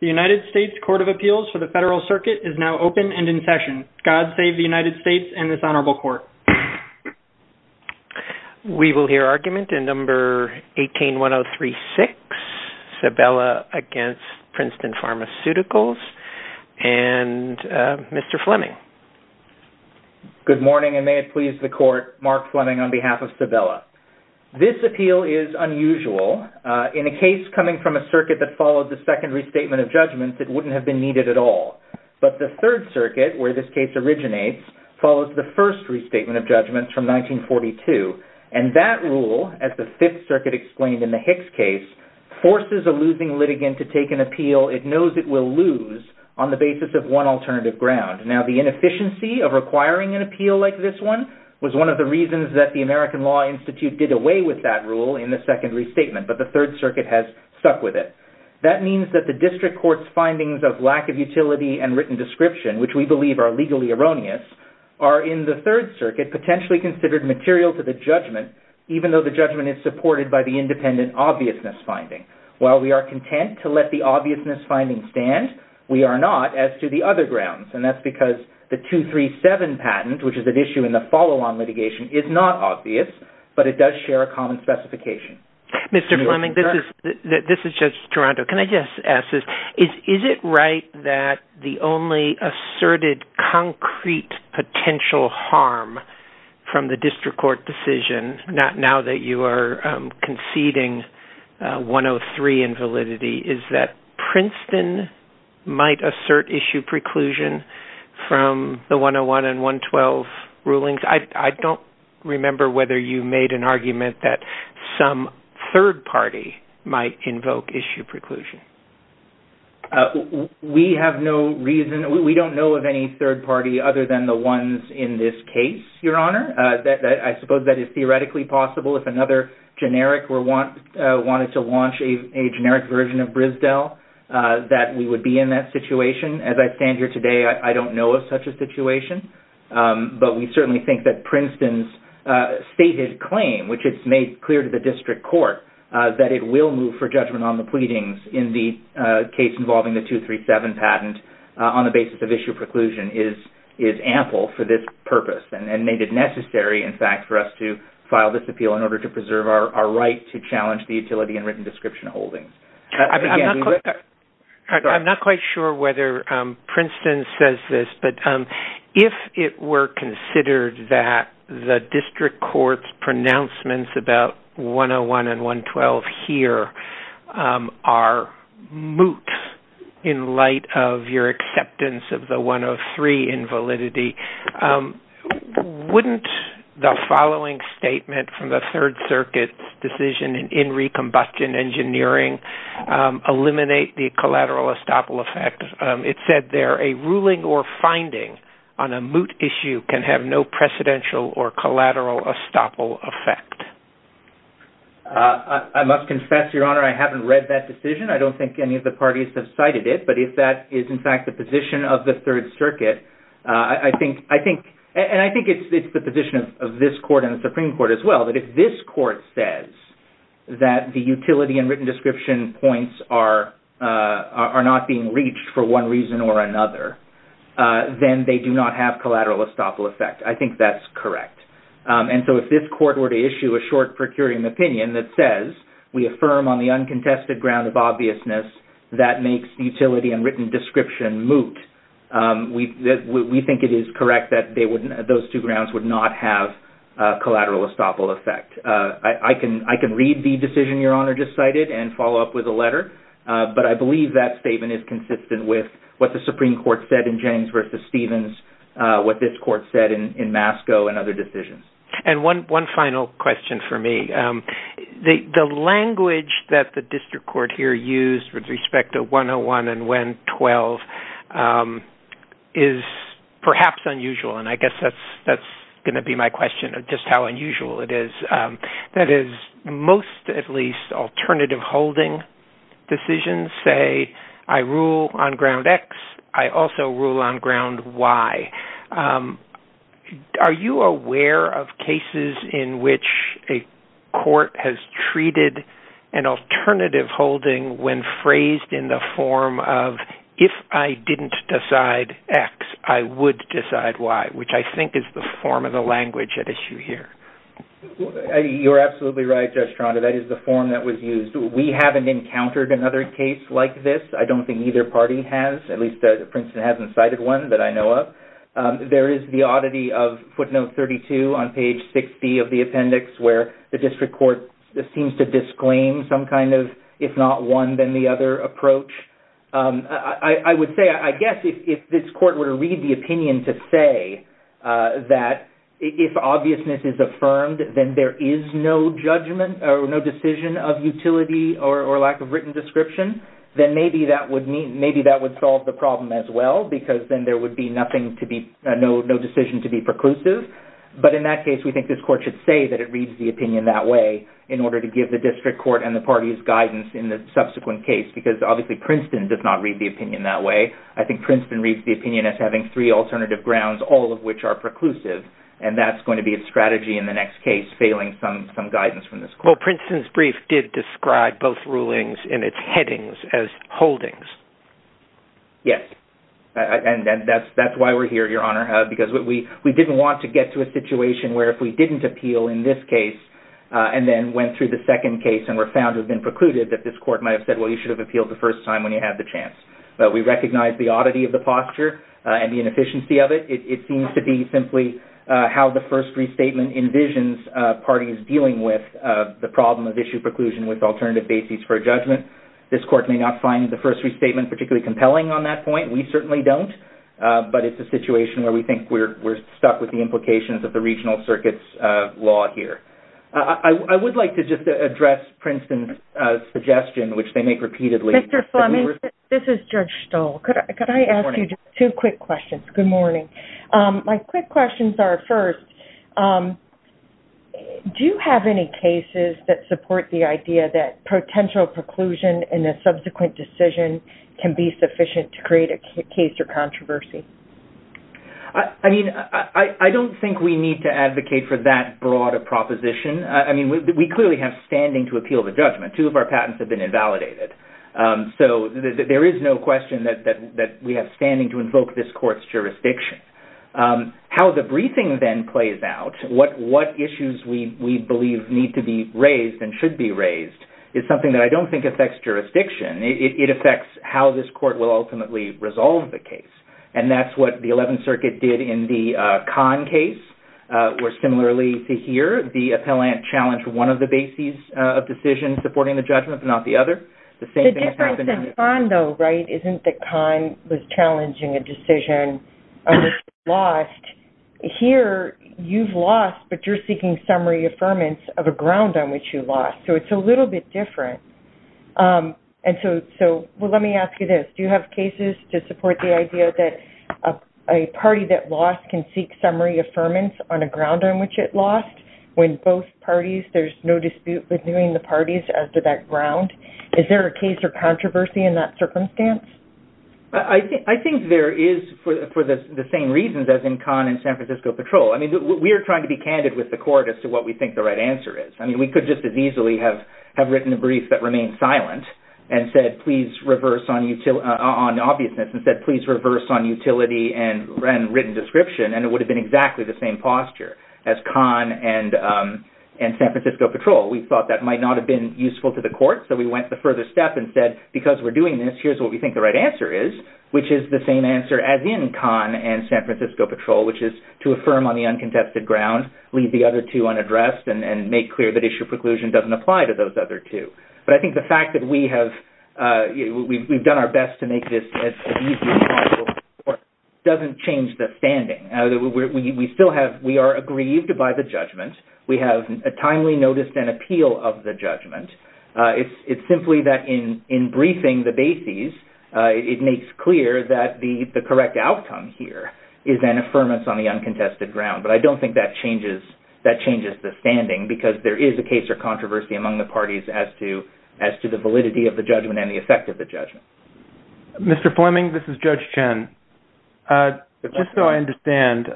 The United States Court of Appeals for the Federal Circuit is now open and in session. God save the United States and this honorable court. We will hear argument in number 181036, Sabela against Princeton Pharmaceuticals and Mr. Fleming. Good morning and may it please the court, Mark Fleming on behalf of Sabela. This appeal is unusual. In a case coming from a circuit that followed the second restatement of judgments, it wouldn't have been needed at all. But the Third Circuit, where this case originates, follows the first restatement of judgments from 1942 and that rule, as the Fifth Circuit explained in the Hicks case, forces a losing litigant to take an appeal it knows it will lose on the basis of one alternative ground. Now the inefficiency of requiring an appeal like this one was one of the reasons that the American Law Institute did away with that rule in the second restatement, but the Third Circuit has stuck with it. That means that the district court's findings of lack of utility and written description, which we believe are legally erroneous, are in the Third Circuit potentially considered material to the judgment, even though the judgment is supported by the independent obviousness finding. While we are content to let the obviousness finding stand, we are not as to the other grounds. And that's because the 237 patent, which is an issue in the follow-on litigation, is not obvious, but it does share a common specification. Mr. Fleming, this is Judge Toronto, can I just ask this, is it right that the only asserted concrete potential harm from the district court decision, now that you are conceding 103 in validity, is that Princeton might assert issue preclusion from the 101 and 112 rulings? I don't remember whether you made an argument that some third party might invoke issue preclusion. We have no reason, we don't know of any third party other than the ones in this case, Your Honor. I suppose that is theoretically possible if another generic wanted to launch a generic version of Brisdell, that we would be in that situation. As I stand here today, I don't know of such a situation. But we certainly think that Princeton's stated claim, which is made clear to the district court, that it will move for judgment on the pleadings in the case involving the 237 patent on the basis of issue preclusion is ample for this purpose and made it necessary, in fact, for us to file this appeal in order to preserve our right to challenge the utility and written description holding. I'm not quite sure whether Princeton says this, but if it were considered that the district court's pronouncements about 101 and 112 here are moot in light of your acceptance of the 103 in validity, wouldn't the following statement from the Third Circuit's decision in recombustion engineering eliminate the collateral estoppel effect? It said there, a ruling or finding on a moot issue can have no precedential or collateral estoppel effect. I must confess, Your Honor, I haven't read that decision. I don't think any of the parties have cited it. But if that is, in fact, the position of the Third Circuit, I think, and I think it's the position of this court and the Supreme Court as well, that if this court says that the utility and written description points are not being reached for one reason or another, then they do not have collateral estoppel effect. I think that's correct. And so if this court were to issue a short per curiam opinion that says we affirm on the uncontested ground of obviousness that makes utility and written description moot, we think it is correct that those two grounds would not have collateral estoppel effect. I can read the decision Your Honor just cited and follow up with a letter. But I believe that statement is consistent with what the Supreme Court said in Jennings v. Stevens, what this court said in Masco and other decisions. And one final question for me. The language that the district court here used with respect to 101 and 112 is perhaps unusual. And I guess that's going to be my question, just how unusual it is. That is, most, at least, alternative holding decisions say I rule on ground X, I also rule on ground Y. Are you aware of cases in which a court has treated an alternative holding when phrased in the form of if I didn't decide X, I would decide Y, which I think is the form of the language at issue here. You're absolutely right, Judge Strada. That is the form that was used. We haven't encountered another case like this. I don't think either party has, at least Princeton hasn't cited one that I know of. There is the oddity of footnote 32 on page 60 of the appendix where the district court seems to disclaim some kind of, if not one, then the other approach. I would say, I guess, if this court were to read the opinion to say that if obviousness is affirmed, then there is no judgment or no decision of utility or lack of written description, then maybe that would mean, maybe that would solve the problem as well because then there would be nothing to be, no decision to be preclusive. But in that case, we think this court should say that it reads the opinion that way in order to give the district court and the parties guidance in the subsequent case because obviously Princeton does not read the opinion that way. I think Princeton reads the opinion as having three alternative grounds, all of which are preclusive and that's going to be a strategy in the next case, failing some guidance from this court. Well, Princeton's brief did describe both rulings in its headings as holdings. Yes. And that's why we're here, Your Honor, because we didn't want to get to a situation where if we didn't appeal in this case and then went through the second case and were found to have been precluded that this court might have said, well, you should have appealed the first time when you had the chance. We recognize the oddity of the posture and the inefficiency of it. It seems to be simply how the first restatement envisions parties dealing with the problem of issue preclusion with alternative basis for judgment. This court may not find the first restatement particularly compelling on that point. We certainly don't. But it's a situation where we think we're stuck with the implications of the regional circuits law here. I would like to just address Princeton's suggestion, which they make repeatedly. Mr. Fleming, this is Judge Stoll. Good morning. Could I ask you two quick questions? Good morning. My quick questions are first, do you have any cases that support the idea that potential preclusion in a subsequent decision can be sufficient to create a case or controversy? I mean, I don't think we need to advocate for that broad a proposition. I mean, we clearly have standing to appeal the judgment. Two of our patents have been invalidated. So there is no question that we have standing to invoke this court's jurisdiction. How the briefing then plays out, what issues we believe need to be raised and should be raised, I don't think affects jurisdiction. It affects how this court will ultimately resolve the case. And that's what the Eleventh Circuit did in the Kahn case, where similarly to here, the appellant challenged one of the bases of decision supporting the judgment, but not the other. The same thing has happened... The difference in Kahn, though, right? Isn't that Kahn was challenging a decision that was lost. Here you've lost, but you're seeking summary affirmance of a ground on which you lost. So it's a little bit different. And so... Well, let me ask you this. Do you have cases to support the idea that a party that lost can seek summary affirmance on a ground on which it lost, when both parties, there's no dispute with viewing the parties as to that ground? Is there a case or controversy in that circumstance? I think there is for the same reasons as in Kahn and San Francisco Patrol. I mean, we are trying to be candid with the court as to what we think the right answer is. I mean, we could just as easily have written a brief that remained silent and said, please reverse on obviousness, and said, please reverse on utility and written description, and it would have been exactly the same posture as Kahn and San Francisco Patrol. We thought that might not have been useful to the court, so we went the further step and said, because we're doing this, here's what we think the right answer is, which is the same answer as in Kahn and San Francisco Patrol, which is to affirm on the uncontested ground, leave the other two unaddressed, and make clear that issue preclusion doesn't apply to those other two. But I think the fact that we have done our best to make this as easy as possible for the court doesn't change the standing. We still have, we are aggrieved by the judgment. We have a timely notice and appeal of the judgment. It's simply that in briefing the bases, it makes clear that the correct outcome here is an affirmance on the uncontested ground. But I don't think that changes the standing, because there is a case or controversy among the parties as to the validity of the judgment and the effect of the judgment. Mr. Fleming, this is Judge Chen. Just so I understand,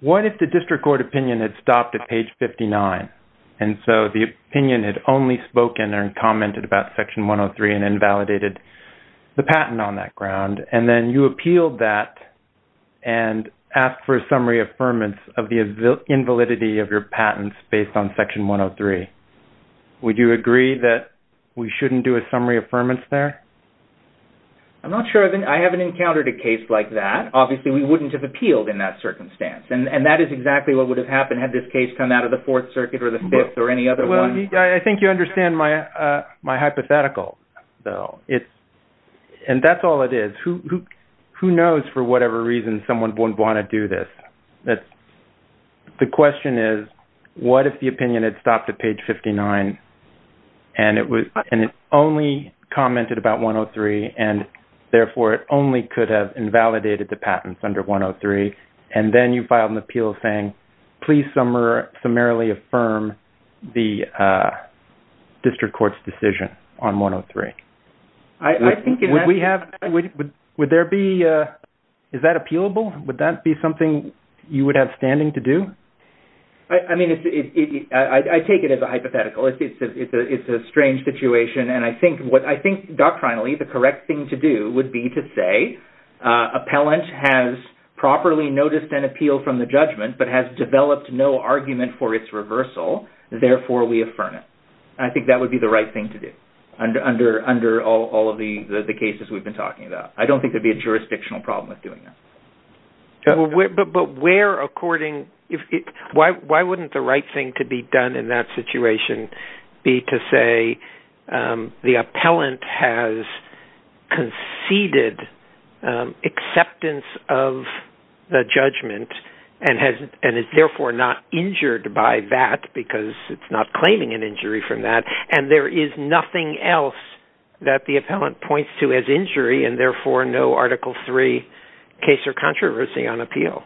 what if the district court opinion had stopped at page 59, and so the opinion had only spoken and commented about Section 103 and invalidated the patent on that ground? And then you appealed that and asked for a summary affirmance of the invalidity of your patents based on Section 103. Would you agree that we shouldn't do a summary affirmance there? I'm not sure. I haven't encountered a case like that. Obviously, we wouldn't have appealed in that circumstance. And that is exactly what would have happened had this case come out of the Fourth Circuit or the Fifth or any other one. I think you understand my hypothetical, though. And that's all it is. Who knows, for whatever reason, someone wouldn't want to do this? The question is, what if the opinion had stopped at page 59, and it only commented about 103, and therefore it only could have invalidated the patents under 103, and then you filed an appeal saying, please summarily affirm the district court's decision on 103? I think in that... Would there be... Is that appealable? Would that be something you would have standing to do? I mean, I take it as a hypothetical. It's a strange situation. And I think doctrinally, the correct thing to do would be to say, appellant has properly noticed an appeal from the judgment but has developed no argument for its reversal, therefore we affirm it. I think that would be the right thing to do under all of the cases we've been talking about. I don't think there'd be a jurisdictional problem with doing that. But where, according... Why wouldn't the right thing to be done in that situation be to say, the appellant has conceded acceptance of the judgment and is therefore not injured by that because it's not claiming an injury from that, and there is nothing else that the appellant points to as injury, and therefore no Article III case or controversy on appeal?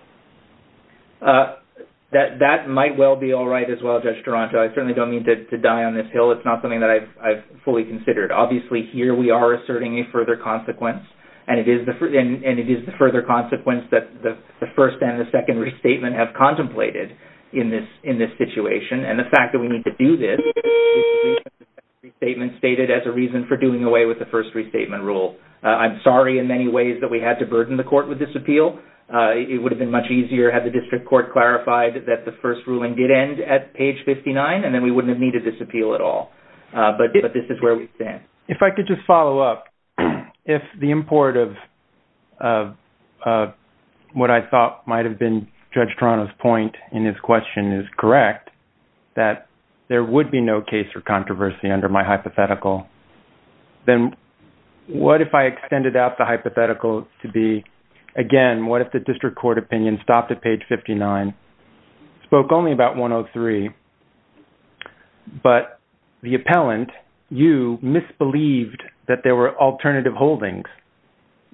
That might well be all right as well, Judge Duranto. I certainly don't mean to die on this hill. It's not something that I've fully considered. Obviously, here we are asserting a further consequence, and it is the further consequence that the first and the second restatement have contemplated in this situation. And the fact that we need to do this, the second restatement stated as a reason for doing away with the first restatement rule. I'm sorry in many ways that we had to burden the court with this appeal. It would have been much easier had the district court clarified that the first ruling did end at page 59, and then we wouldn't have needed this appeal at all. But this is where we stand. If I could just follow up. If the import of what I thought might have been Judge Duranto's point in his question is correct, that there would be no case or controversy under my hypothetical, then what if I extended out the hypothetical to be, again, what if the district court opinion stopped at page 59, spoke only about 103, but the appellant, you, misbelieved that there were alternative holdings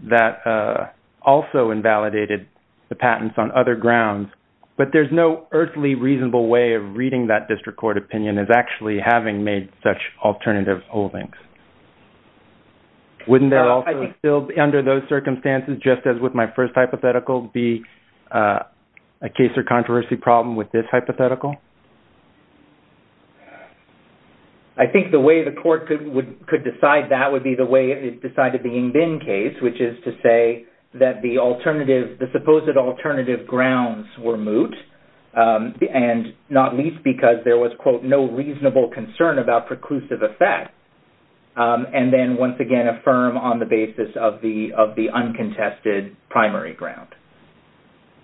that also invalidated the patents on other grounds, but there's no earthly reasonable way of reading that district court opinion as actually having made such alternative holdings. Wouldn't there also still, under those circumstances, just as with my first hypothetical, be a case or controversy problem with this hypothetical? I think the way the court could decide that would be the way it decided the Ngbin case, which is to say that the alternative, the supposed alternative grounds were moot, and not least because there was, quote, no reasonable concern about preclusive effect, and then once again affirm on the basis of the uncontested primary ground.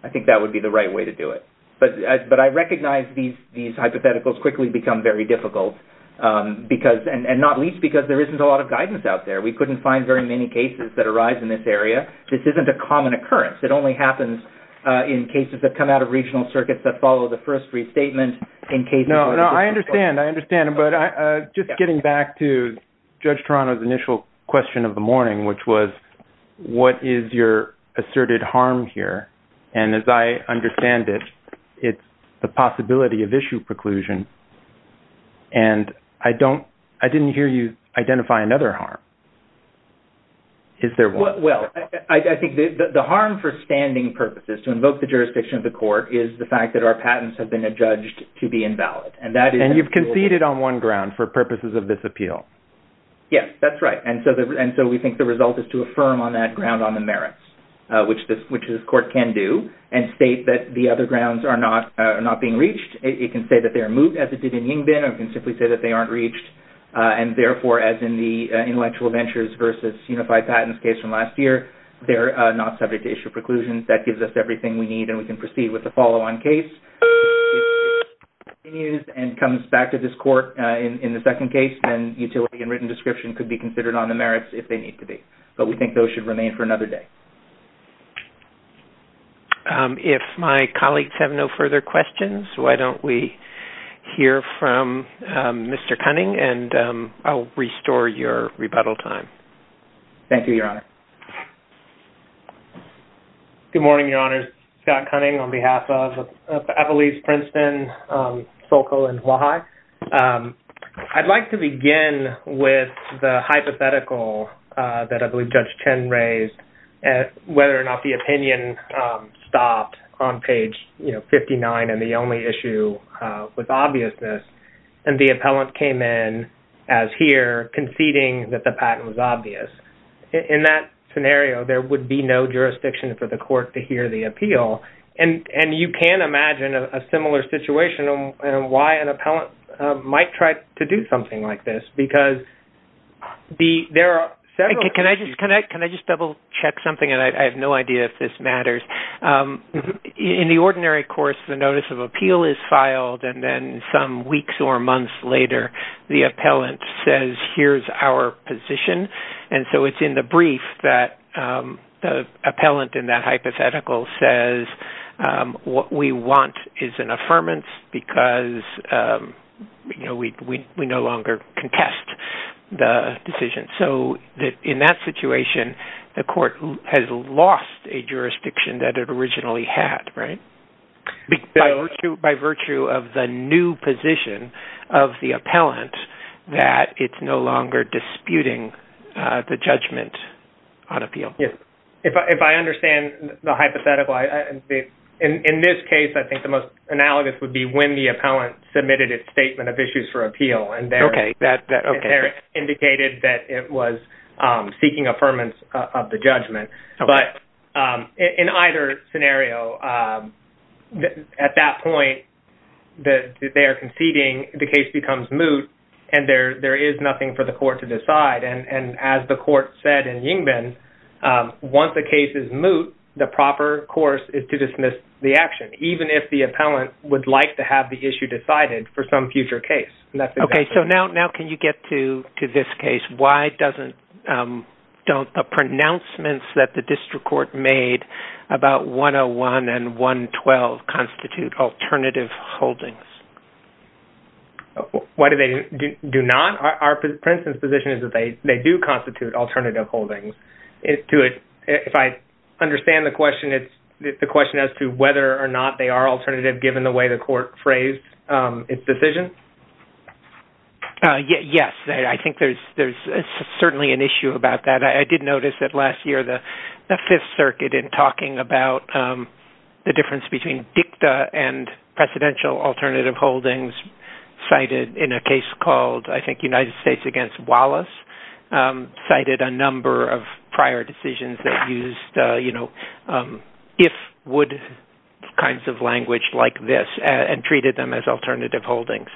I think that would be the right way to do it. But I recognize these hypotheticals quickly become very difficult, and not least because there isn't a lot of guidance out there. We couldn't find very many cases that arise in this area. This isn't a common occurrence. It only happens in cases that come out of regional circuits that follow the first restatement in cases... No, no. I understand. I understand. But just getting back to Judge Toronto's initial question of the morning, which was, what is your asserted harm here? And as I understand it, it's the possibility of issue preclusion. And I didn't hear you identify another harm. Is there one? Well, I think the harm for standing purposes, to invoke the jurisdiction of the court, is the fact that our patents have been adjudged to be invalid. And that is... And you've conceded on one ground for purposes of this appeal. Yes. That's right. And so we think the result is to affirm on that ground on the merits, which this court can do, and state that the other grounds are not being reached. It can say that they are moot, as it did in Yingbin, or it can simply say that they aren't They're not subject to issue preclusions. That gives us everything we need, and we can proceed with the follow-on case. If this continues and comes back to this court in the second case, then utility and written description could be considered on the merits, if they need to be. But we think those should remain for another day. If my colleagues have no further questions, why don't we hear from Mr. Cunning, and I'll restore your rebuttal time. Thank you, Your Honor. Good morning, Your Honors. Scott Cunning on behalf of Appellees Princeton, Sokol, and Wahai. I'd like to begin with the hypothetical that I believe Judge Chen raised, whether or not the opinion stopped on page 59, and the only issue with obviousness, and the appellant came in as here, conceding that the patent was obvious. In that scenario, there would be no jurisdiction for the court to hear the appeal. And you can imagine a similar situation, and why an appellant might try to do something like this. Because there are several issues. Can I just double-check something, and I have no idea if this matters. In the ordinary course, the notice of appeal is filed, and then some weeks or months later, the appellant says, here's our position. And so it's in the brief that the appellant in that hypothetical says, what we want is an affirmance, because we no longer contest the decision. So in that situation, the court has lost a jurisdiction that it originally had, right? By virtue of the new position of the appellant, that it's no longer disputing the judgment on appeal. Yes. If I understand the hypothetical, in this case, I think the most analogous would be when the appellant submitted its statement of issues for appeal, and there it indicated that it was seeking affirmance of the judgment. But in either scenario, at that point that they are conceding, the case becomes moot, and there is nothing for the court to decide. And as the court said in Yingbin, once the case is moot, the proper course is to dismiss the action, even if the appellant would like to have the issue decided for some future case. Okay. So now can you get to this case? Why don't the pronouncements that the district court made about 101 and 112 constitute alternative holdings? Why do they do not? Our principle position is that they do constitute alternative holdings. If I understand the question, it's the question as to whether or not they are alternative, given the way the court phrased its decision? Yes. I think there's certainly an issue about that. I did notice that last year, the Fifth Circuit, in talking about the difference between dicta and presidential alternative holdings, cited in a case called, I think, United States against treated them as alternative holdings.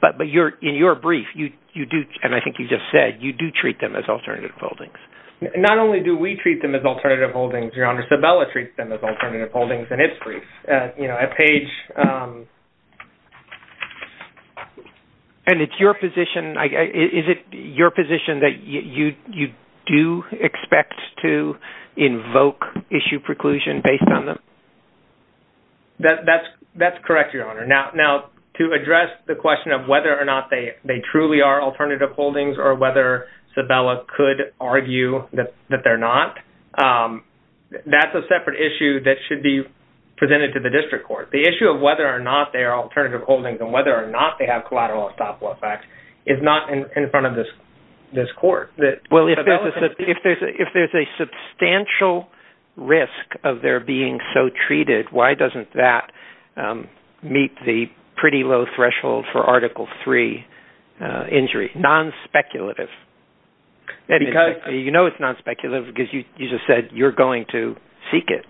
But in your brief, and I think you just said, you do treat them as alternative holdings. Not only do we treat them as alternative holdings, Your Honor, Sabella treats them as alternative holdings in its brief. And it's your position, is it your position that you do expect to invoke issue preclusion based on them? That's correct, Your Honor. Now, to address the question of whether or not they truly are alternative holdings or whether Sabella could argue that they're not, that's a separate issue that should be presented to the district court. The issue of whether or not they are alternative holdings and whether or not they have collateral estoppel effect is not in front of this court. Well, if there's a substantial risk of their being so treated, why doesn't that meet the pretty low threshold for Article III injury? Non-speculative. You know it's non-speculative because you just said you're going to seek it.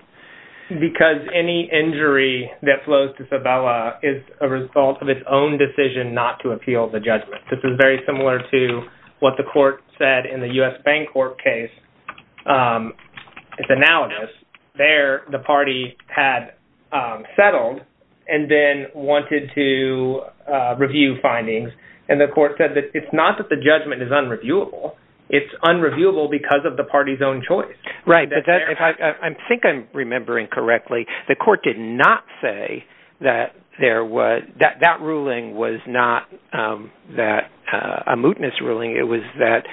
Because any injury that flows to Sabella is a result of its own decision not to appeal the judgment. This is very similar to what the court said in the U.S. Bancorp case, it's analogous. There the party had settled and then wanted to review findings. And the court said that it's not that the judgment is unreviewable, it's unreviewable because of the party's own choice. Right, but I think I'm remembering correctly, the court did not say that there was, that that ruling was not a mootness ruling, it was that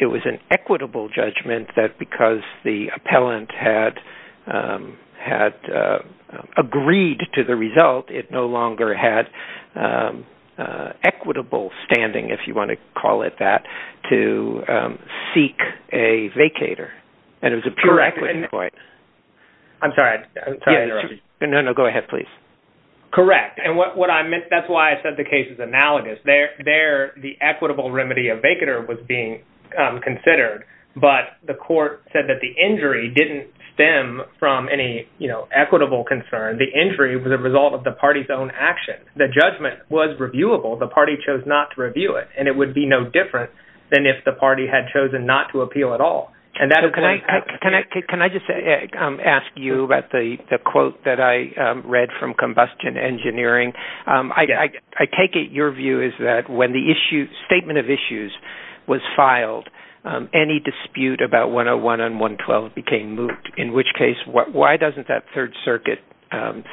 it was an equitable judgment that because the appellant had agreed to the result, it no longer had equitable standing, if you want to call it that, to seek a vacator. And it was a pure equity point. I'm sorry, I'm sorry to interrupt you. No, no, go ahead please. Correct. And what I meant, that's why I said the case is analogous. There, the equitable remedy of vacator was being considered. But the court said that the injury didn't stem from any, you know, equitable concern. The injury was a result of the party's own action. The judgment was reviewable, the party chose not to review it. And it would be no different than if the party had chosen not to appeal at all. And that is why... Can I just ask you about the quote that I read from Combustion Engineering? I take it your view is that when the issue, statement of issues was filed, any dispute about 101 and 112 became moot. In which case, why doesn't that Third Circuit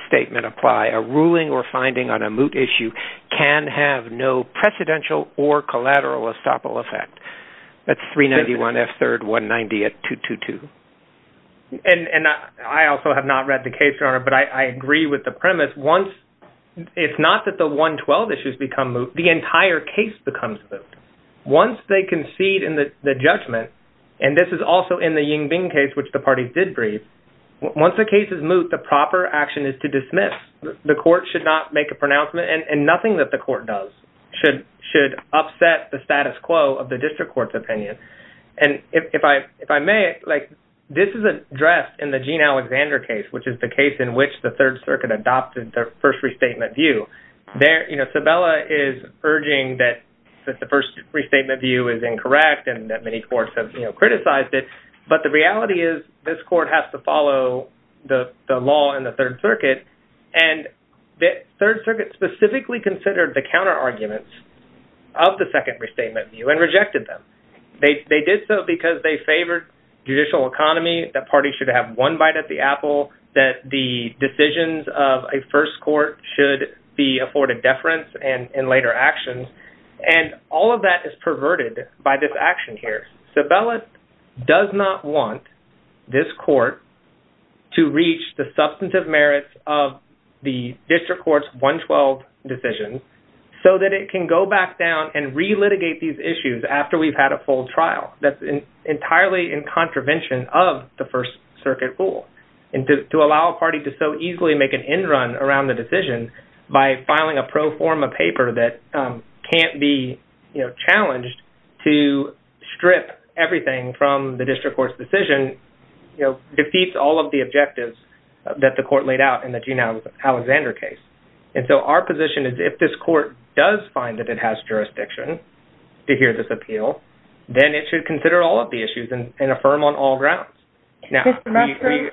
statement apply? A ruling or finding on a moot issue can have no precedential or collateral estoppel effect. That's 391 F. Third 190 at 222. And I also have not read the case, Your Honor, but I agree with the premise. Once, if not that the 112 issues become moot, the entire case becomes moot. Once they concede in the judgment, and this is also in the Ying Bing case, which the parties did brief, once the case is moot, the proper action is to dismiss. The court should not make a pronouncement and nothing that the court does should upset the status quo of the district court's opinion. And if I may, this is addressed in the Gene Alexander case, which is the case in which the Third Circuit adopted their first restatement view. Sabella is urging that the first restatement view is incorrect and that many courts have criticized it. But the reality is this court has to follow the law in the Third Circuit. And the Third Circuit specifically considered the counterarguments of the second restatement view and rejected them. They did so because they favored judicial economy, that parties should have one bite at the apple, that the decisions of a first court should be afforded deference and in later actions. And all of that is perverted by this action here. Sabella does not want this court to reach the substantive merits of the district court's 112 decisions so that it can go back down and re-litigate these issues after we've had a full trial. That's entirely in contravention of the First Circuit rule and to allow a party to so easily make an end run around the decision by filing a pro forma paper that can't be challenged to strip everything from the district court's decision, you know, defeats all of the objectives that the court laid out in the Juneau-Alexander case. And so our position is if this court does find that it has jurisdiction to hear this appeal, then it should consider all of the issues and affirm on all grounds. Now... Mr. Musgrove?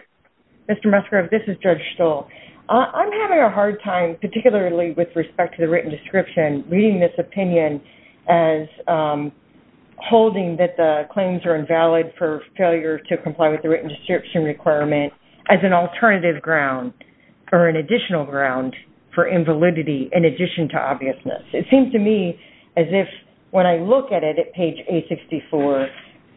Mr. Musgrove? This is Judge Stoll. I'm having a hard time, particularly with respect to the written description, reading this opinion as holding that the claims are invalid for failure to comply with the written description requirement as an alternative ground or an additional ground for invalidity in addition to obviousness. It seems to me as if when I look at it at page 864,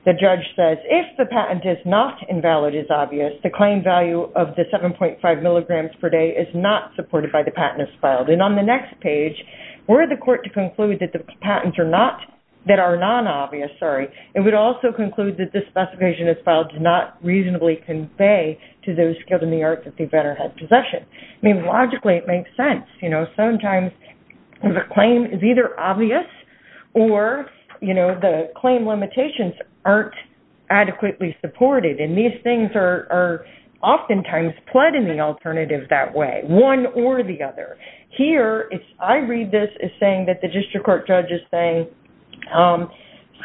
the judge says, if the patent is not invalid as obvious, the claim value of the 7.5 milligrams per day is not supported by the patent as filed. And on the next page, were the court to conclude that the patents are not... That are non-obvious, sorry, it would also conclude that the specification as filed does not reasonably convey to those skilled in the arts that they better have possession. I mean, logically, it makes sense. You know, sometimes the claim is either obvious or, you know, the claim limitations aren't adequately supported. And these things are oftentimes pled in the alternative that way, one or the other. Here, if I read this as saying that the district court judge is saying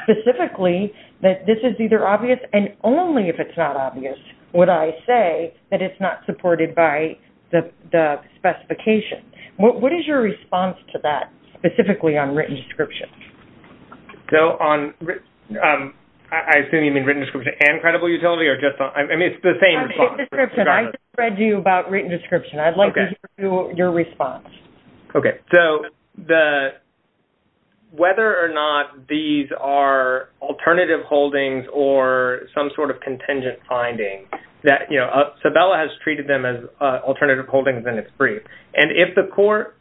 specifically that this is either obvious and only if it's not obvious would I say that it's not supported by the specification. What is your response to that specifically on written description? So, on... I assume you mean written description and credible utility or just on... I mean, it's the same response. I've hit description. I just read to you about written description. I'd like to hear your response. Okay. So, the... Whether or not these are alternative holdings or some sort of contingent finding that, you know, Sabella has treated them as alternative holdings and it's free. And if the court...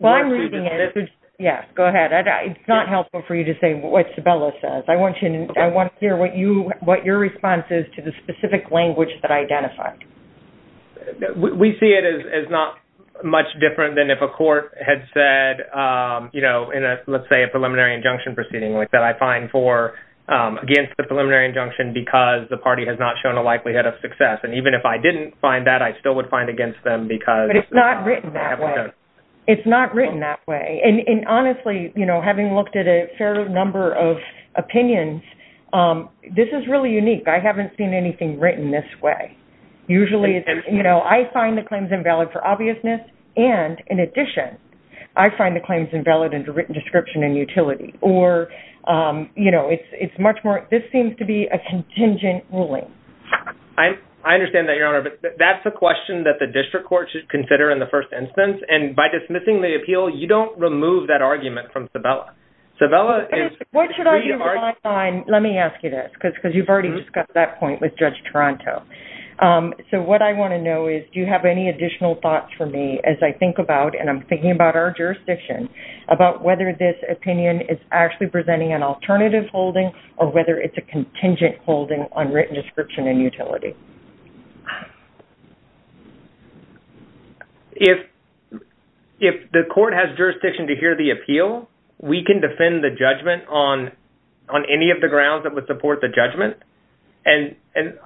Well, I'm reading it. Yeah. Go ahead. It's not helpful for you to say what Sabella says. I want to hear what your response is to the specific language that I identified. We see it as not much different than if a court had said, you know, in a... Let's say a preliminary injunction proceeding like that, I find for against the preliminary injunction because the party has not shown a likelihood of success. And even if I didn't find that, I still would find against them because... But it's not written that way. It's not written that way. And honestly, you know, having looked at a fair number of opinions, this is really unique. I haven't seen anything written this way. Usually, you know, I find the claims invalid for obviousness. And in addition, I find the claims invalid in the written description and utility or, you know, it's much more... This seems to be a contingent ruling. I understand that, Your Honor. But that's a question that the district court should consider in the first instance. And by dismissing the appeal, you don't remove that argument from Sabella. Sabella is... What should I rely on? Let me ask you this because you've already discussed that point with Judge Toronto. So, what I want to know is, do you have any additional thoughts for me as I think about, and I'm thinking about our jurisdiction, about whether this opinion is actually presenting an alternative holding or whether it's a contingent holding on written description and utility? If the court has jurisdiction to hear the appeal, we can defend the judgment on any of the grounds that would support the judgment. And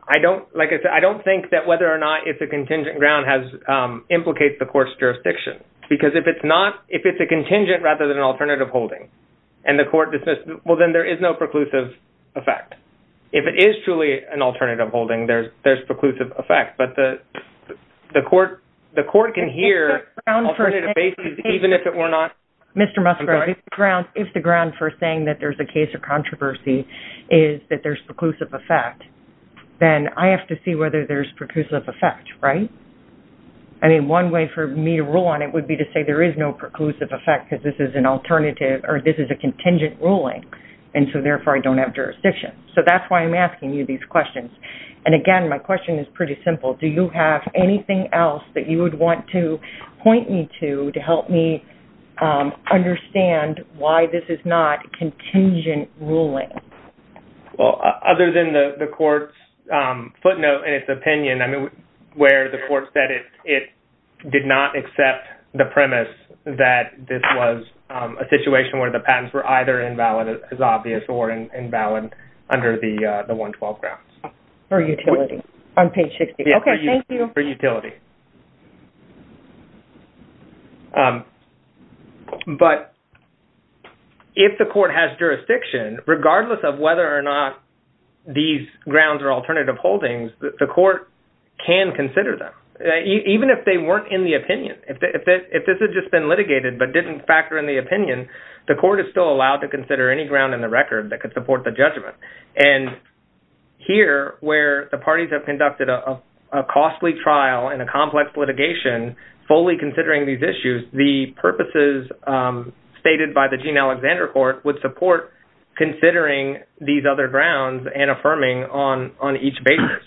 I don't... Like I said, I don't think that whether or not it's a contingent ground has... Implicates the court's jurisdiction. Because if it's not... If it's a contingent rather than an alternative holding, and the court dismisses, well, then there is no preclusive effect. If it is truly an alternative holding, there's preclusive effect. But the court can hear alternative basis even if it were not... Mr. Musgrove, if the grounds... I'm sorry? If the grounds are saying is that there's preclusive effect, then I have to see whether there's preclusive effect, right? I mean, one way for me to rule on it would be to say there is no preclusive effect because this is an alternative or this is a contingent ruling. And so, therefore, I don't have jurisdiction. So that's why I'm asking you these questions. And again, my question is pretty simple. Do you have anything else that you would want to point me to to help me understand why this is not a contingent ruling? Well, other than the court's footnote and its opinion, I mean, where the court said it did not accept the premise that this was a situation where the patents were either invalid as obvious or invalid under the 112 grounds. For utility on page 60. Okay. Thank you. For utility. But if the court has jurisdiction, regardless of whether or not these grounds are alternative holdings, the court can consider them. Even if they weren't in the opinion, if this had just been litigated but didn't factor in the opinion, the court is still allowed to consider any ground in the record that could support the judgment. And here, where the parties have conducted a costly trial and a complex litigation, fully considering these issues, the purposes stated by the Gene Alexander Court would support considering these other grounds and affirming on each basis.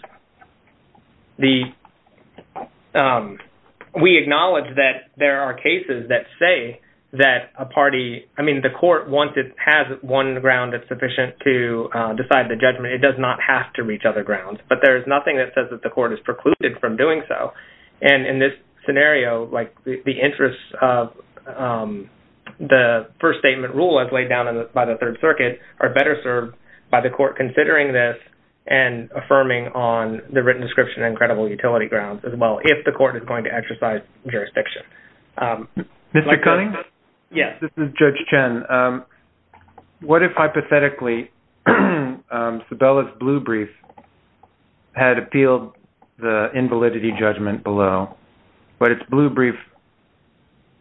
We acknowledge that there are cases that say that a party, I mean, the court wants it has one ground that's sufficient to decide the judgment. It does not have to reach other grounds. But there's nothing that says that the court is precluded from doing so. And in this scenario, like the interest of the first statement rule as laid down by the Third Circuit are better served by the court considering this and affirming on the written description and credible utility grounds as well, if the court is going to exercise jurisdiction. Mr. Cunning? Yes. This is Judge Chen. What if hypothetically, Sabella's blue brief had appealed the invalidity judgment below, but its blue brief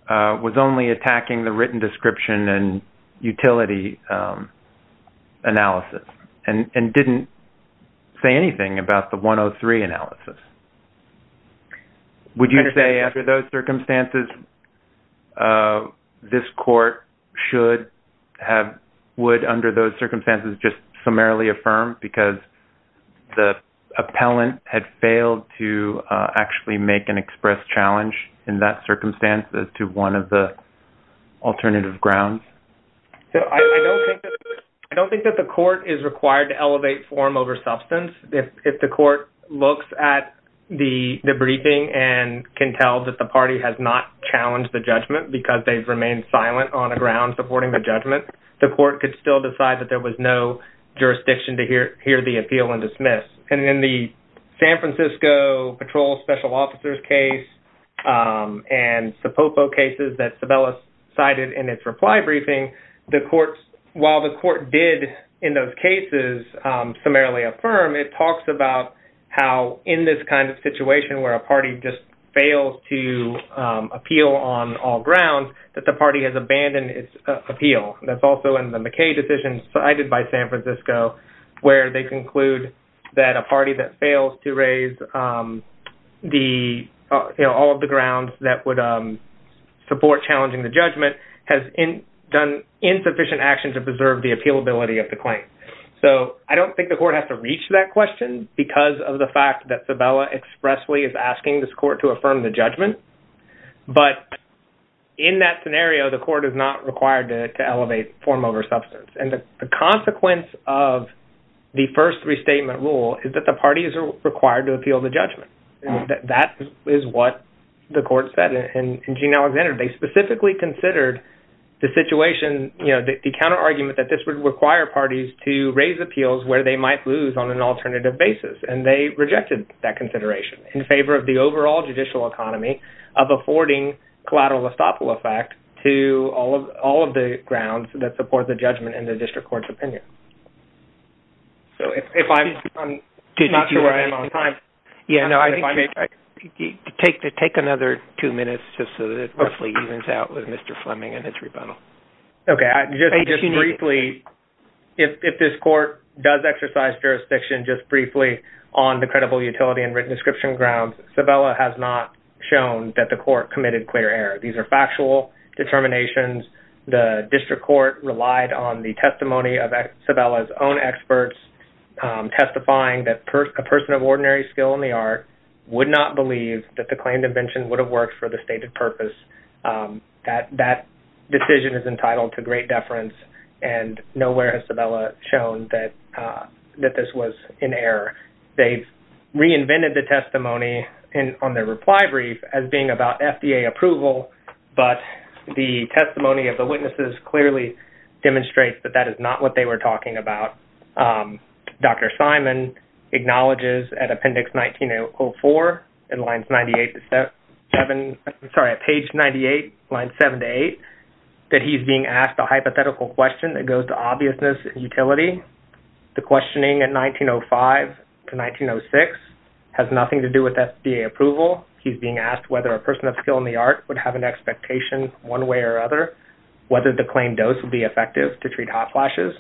was only attacking the written description and utility analysis and didn't say anything about the 103 analysis? Would you say after those circumstances, this court should have, would under those circumstances just summarily affirm because the appellant had failed to actually make an express challenge in that circumstance as to one of the alternative grounds? I don't think that the court is required to elevate form over substance. If the court looks at the briefing and can tell that the party has not challenged the judgment because they've remained silent on a ground supporting the judgment, the court could still decide that there was no jurisdiction to hear the appeal and dismiss. And in the San Francisco Patrol Special Officers case and the Popo cases that Sabella cited in its reply briefing, while the court did in those cases summarily affirm, it talks about how in this kind of situation where a party just fails to appeal on all grounds, that the party has abandoned its appeal. That's also in the McKay decision cited by San Francisco where they conclude that a party that fails to raise the, you know, all of the grounds that would support challenging the judgment has done insufficient action to preserve the appealability of the claim. So I don't think the court has to reach that question because of the fact that Sabella expressly is asking this court to affirm the judgment. But in that scenario, the court is not required to elevate form over substance. And the consequence of the first restatement rule is that the party is required to appeal the judgment. And that is what the court said in Gene Alexander. They specifically considered the situation, you know, the counterargument that this would require parties to raise appeals where they might lose on an alternative basis. And they rejected that consideration in favor of the overall judicial economy of affording collateral estoppel effect to all of the grounds that support the judgment in the district court's opinion. So if I'm not sure where I am on time... Yeah, no, I think take another two minutes just so that it roughly evens out with Mr. Fleming and his rebuttal. Okay, just briefly, if this court does exercise jurisdiction just briefly on the credible utility and written description grounds, Sabella has not shown that the court committed clear error. These are factual determinations. The district court relied on the testimony of Sabella's own experts testifying that a person of ordinary skill in the art would not believe that the claim dimension would have worked for the stated purpose. That decision is entitled to great deference. And nowhere has Sabella shown that this was in error. They've reinvented the testimony on their reply brief as being about FDA approval. But the testimony of the witnesses clearly demonstrates that that is not what they were talking about. Dr. Simon acknowledges at appendix 1904 and lines 98 to 7, sorry, page 98, line 7 to 8, that he's being asked a hypothetical question that goes to obviousness and utility. The questioning at 1905 to 1906 has nothing to do with FDA approval. He's being asked whether a person of skill in the art would have an expectation one way or other, whether the claim dose would be effective to treat hot flashes.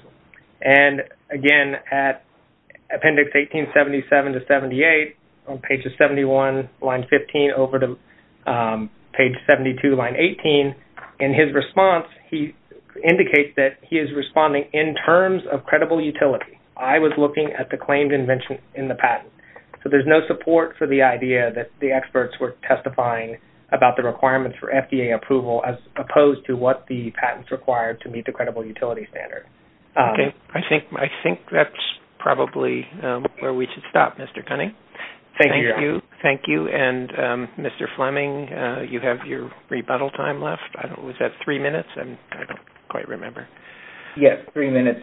And again, at appendix 1877 to 78, on pages 71, line 15, over to page 72, line 18, in his response, he indicates that he is responding in terms of credible utility. I was looking at the claimed invention in the patent. So there's no support for the idea that the experts were testifying about the requirements for FDA approval as opposed to what the patents required to meet the credible utility standard. I think that's probably where we should stop, Mr. Cunningham. Thank you. Thank you. And Mr. Fleming, you have your rebuttal time left. Was that three minutes? I don't quite remember. Yes, three minutes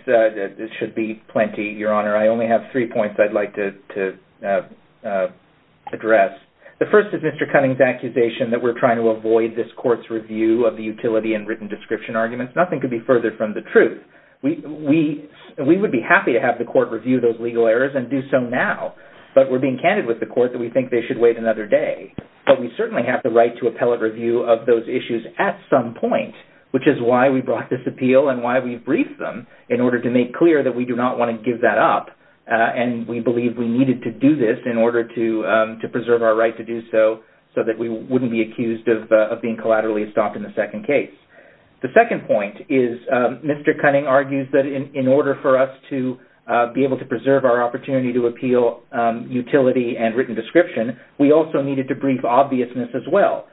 should be plenty, Your Honor. I only have three points I'd like to address. The first is Mr. Cunningham's accusation that we're trying to avoid this court's review of the utility and written description arguments. Nothing could be further from the truth. We would be happy to have the court review those legal errors and do so now. But we're being candid with the court that we think they should wait another day. But we certainly have the right to appellate review of those issues at some point, which is why we brought this appeal and why we briefed them in order to make clear that we do not want to give that up. And we believe we needed to do this in order to preserve our right to do so, so that we wouldn't be accused of being collaterally stopped in the second case. The second point is Mr. Cunningham argues that in order for us to be able to preserve our opportunity to appeal utility and written description, we also needed to brief obviousness as well.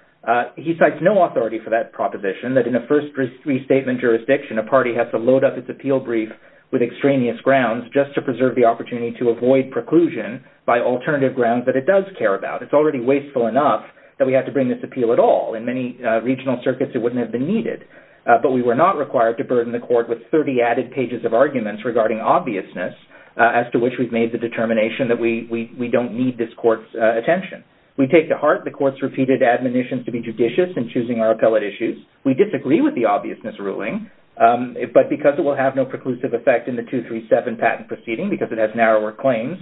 He cites no authority for that proposition, that in a first restatement jurisdiction, a party has to load up its appeal brief with extraneous grounds just to preserve the opportunity to avoid preclusion by alternative grounds that it does care about. It's already wasteful enough that we have to bring this appeal at all. In many regional circuits, it wouldn't have been needed. But we were not required to burden the court with 30 added pages of arguments regarding obviousness as to which we've made the determination that we don't need this court's attention. We take to heart the court's repeated admonitions to be judicious in choosing our appellate issues. We disagree with the obviousness ruling, but because it will have no preclusive effect in the 237 patent proceeding, because it has narrower claims,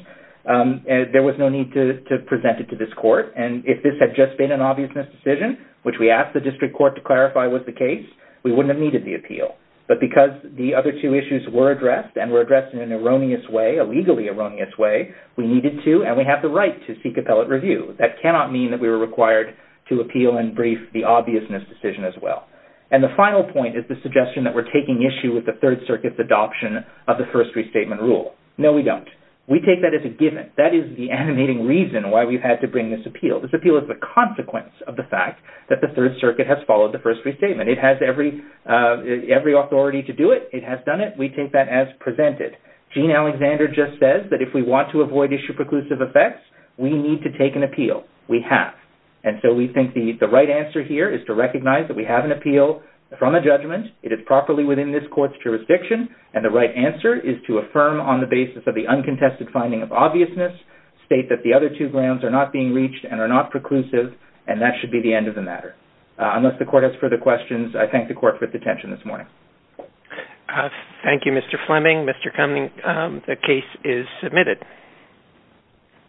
there was no need to present it to this court. And if this had just been an obviousness decision, which we asked the district court to clarify was the case, we wouldn't have needed the appeal. But because the other two issues were addressed and were addressed in an erroneous way, a legally erroneous way, we needed to and we have the right to seek appellate review. That cannot mean that we were required to appeal and brief the obviousness decision as well. And the final point is the suggestion that we're taking issue with the Third Circuit's adoption of the first restatement rule. No, we don't. We take that as a given. That is the animating reason why we've had to bring this appeal. This appeal is the consequence of the fact that the Third Circuit has followed the first restatement. It has every authority to do it. It has done it. We take that as presented. Gene Alexander just says that if we want to avoid issue preclusive effects, we need to take an appeal. We have. And so we think the right answer here is to recognize that we have an appeal from a judgment. It is properly within this court's jurisdiction. And the right answer is to affirm on the basis of the uncontested finding of obviousness, state that the other two grounds are not being reached and are not preclusive, and that should be the end of the matter. Unless the court has further questions, I thank the court for its attention this morning. Thank you, Mr. Fleming. Mr. Cummings, the case is submitted.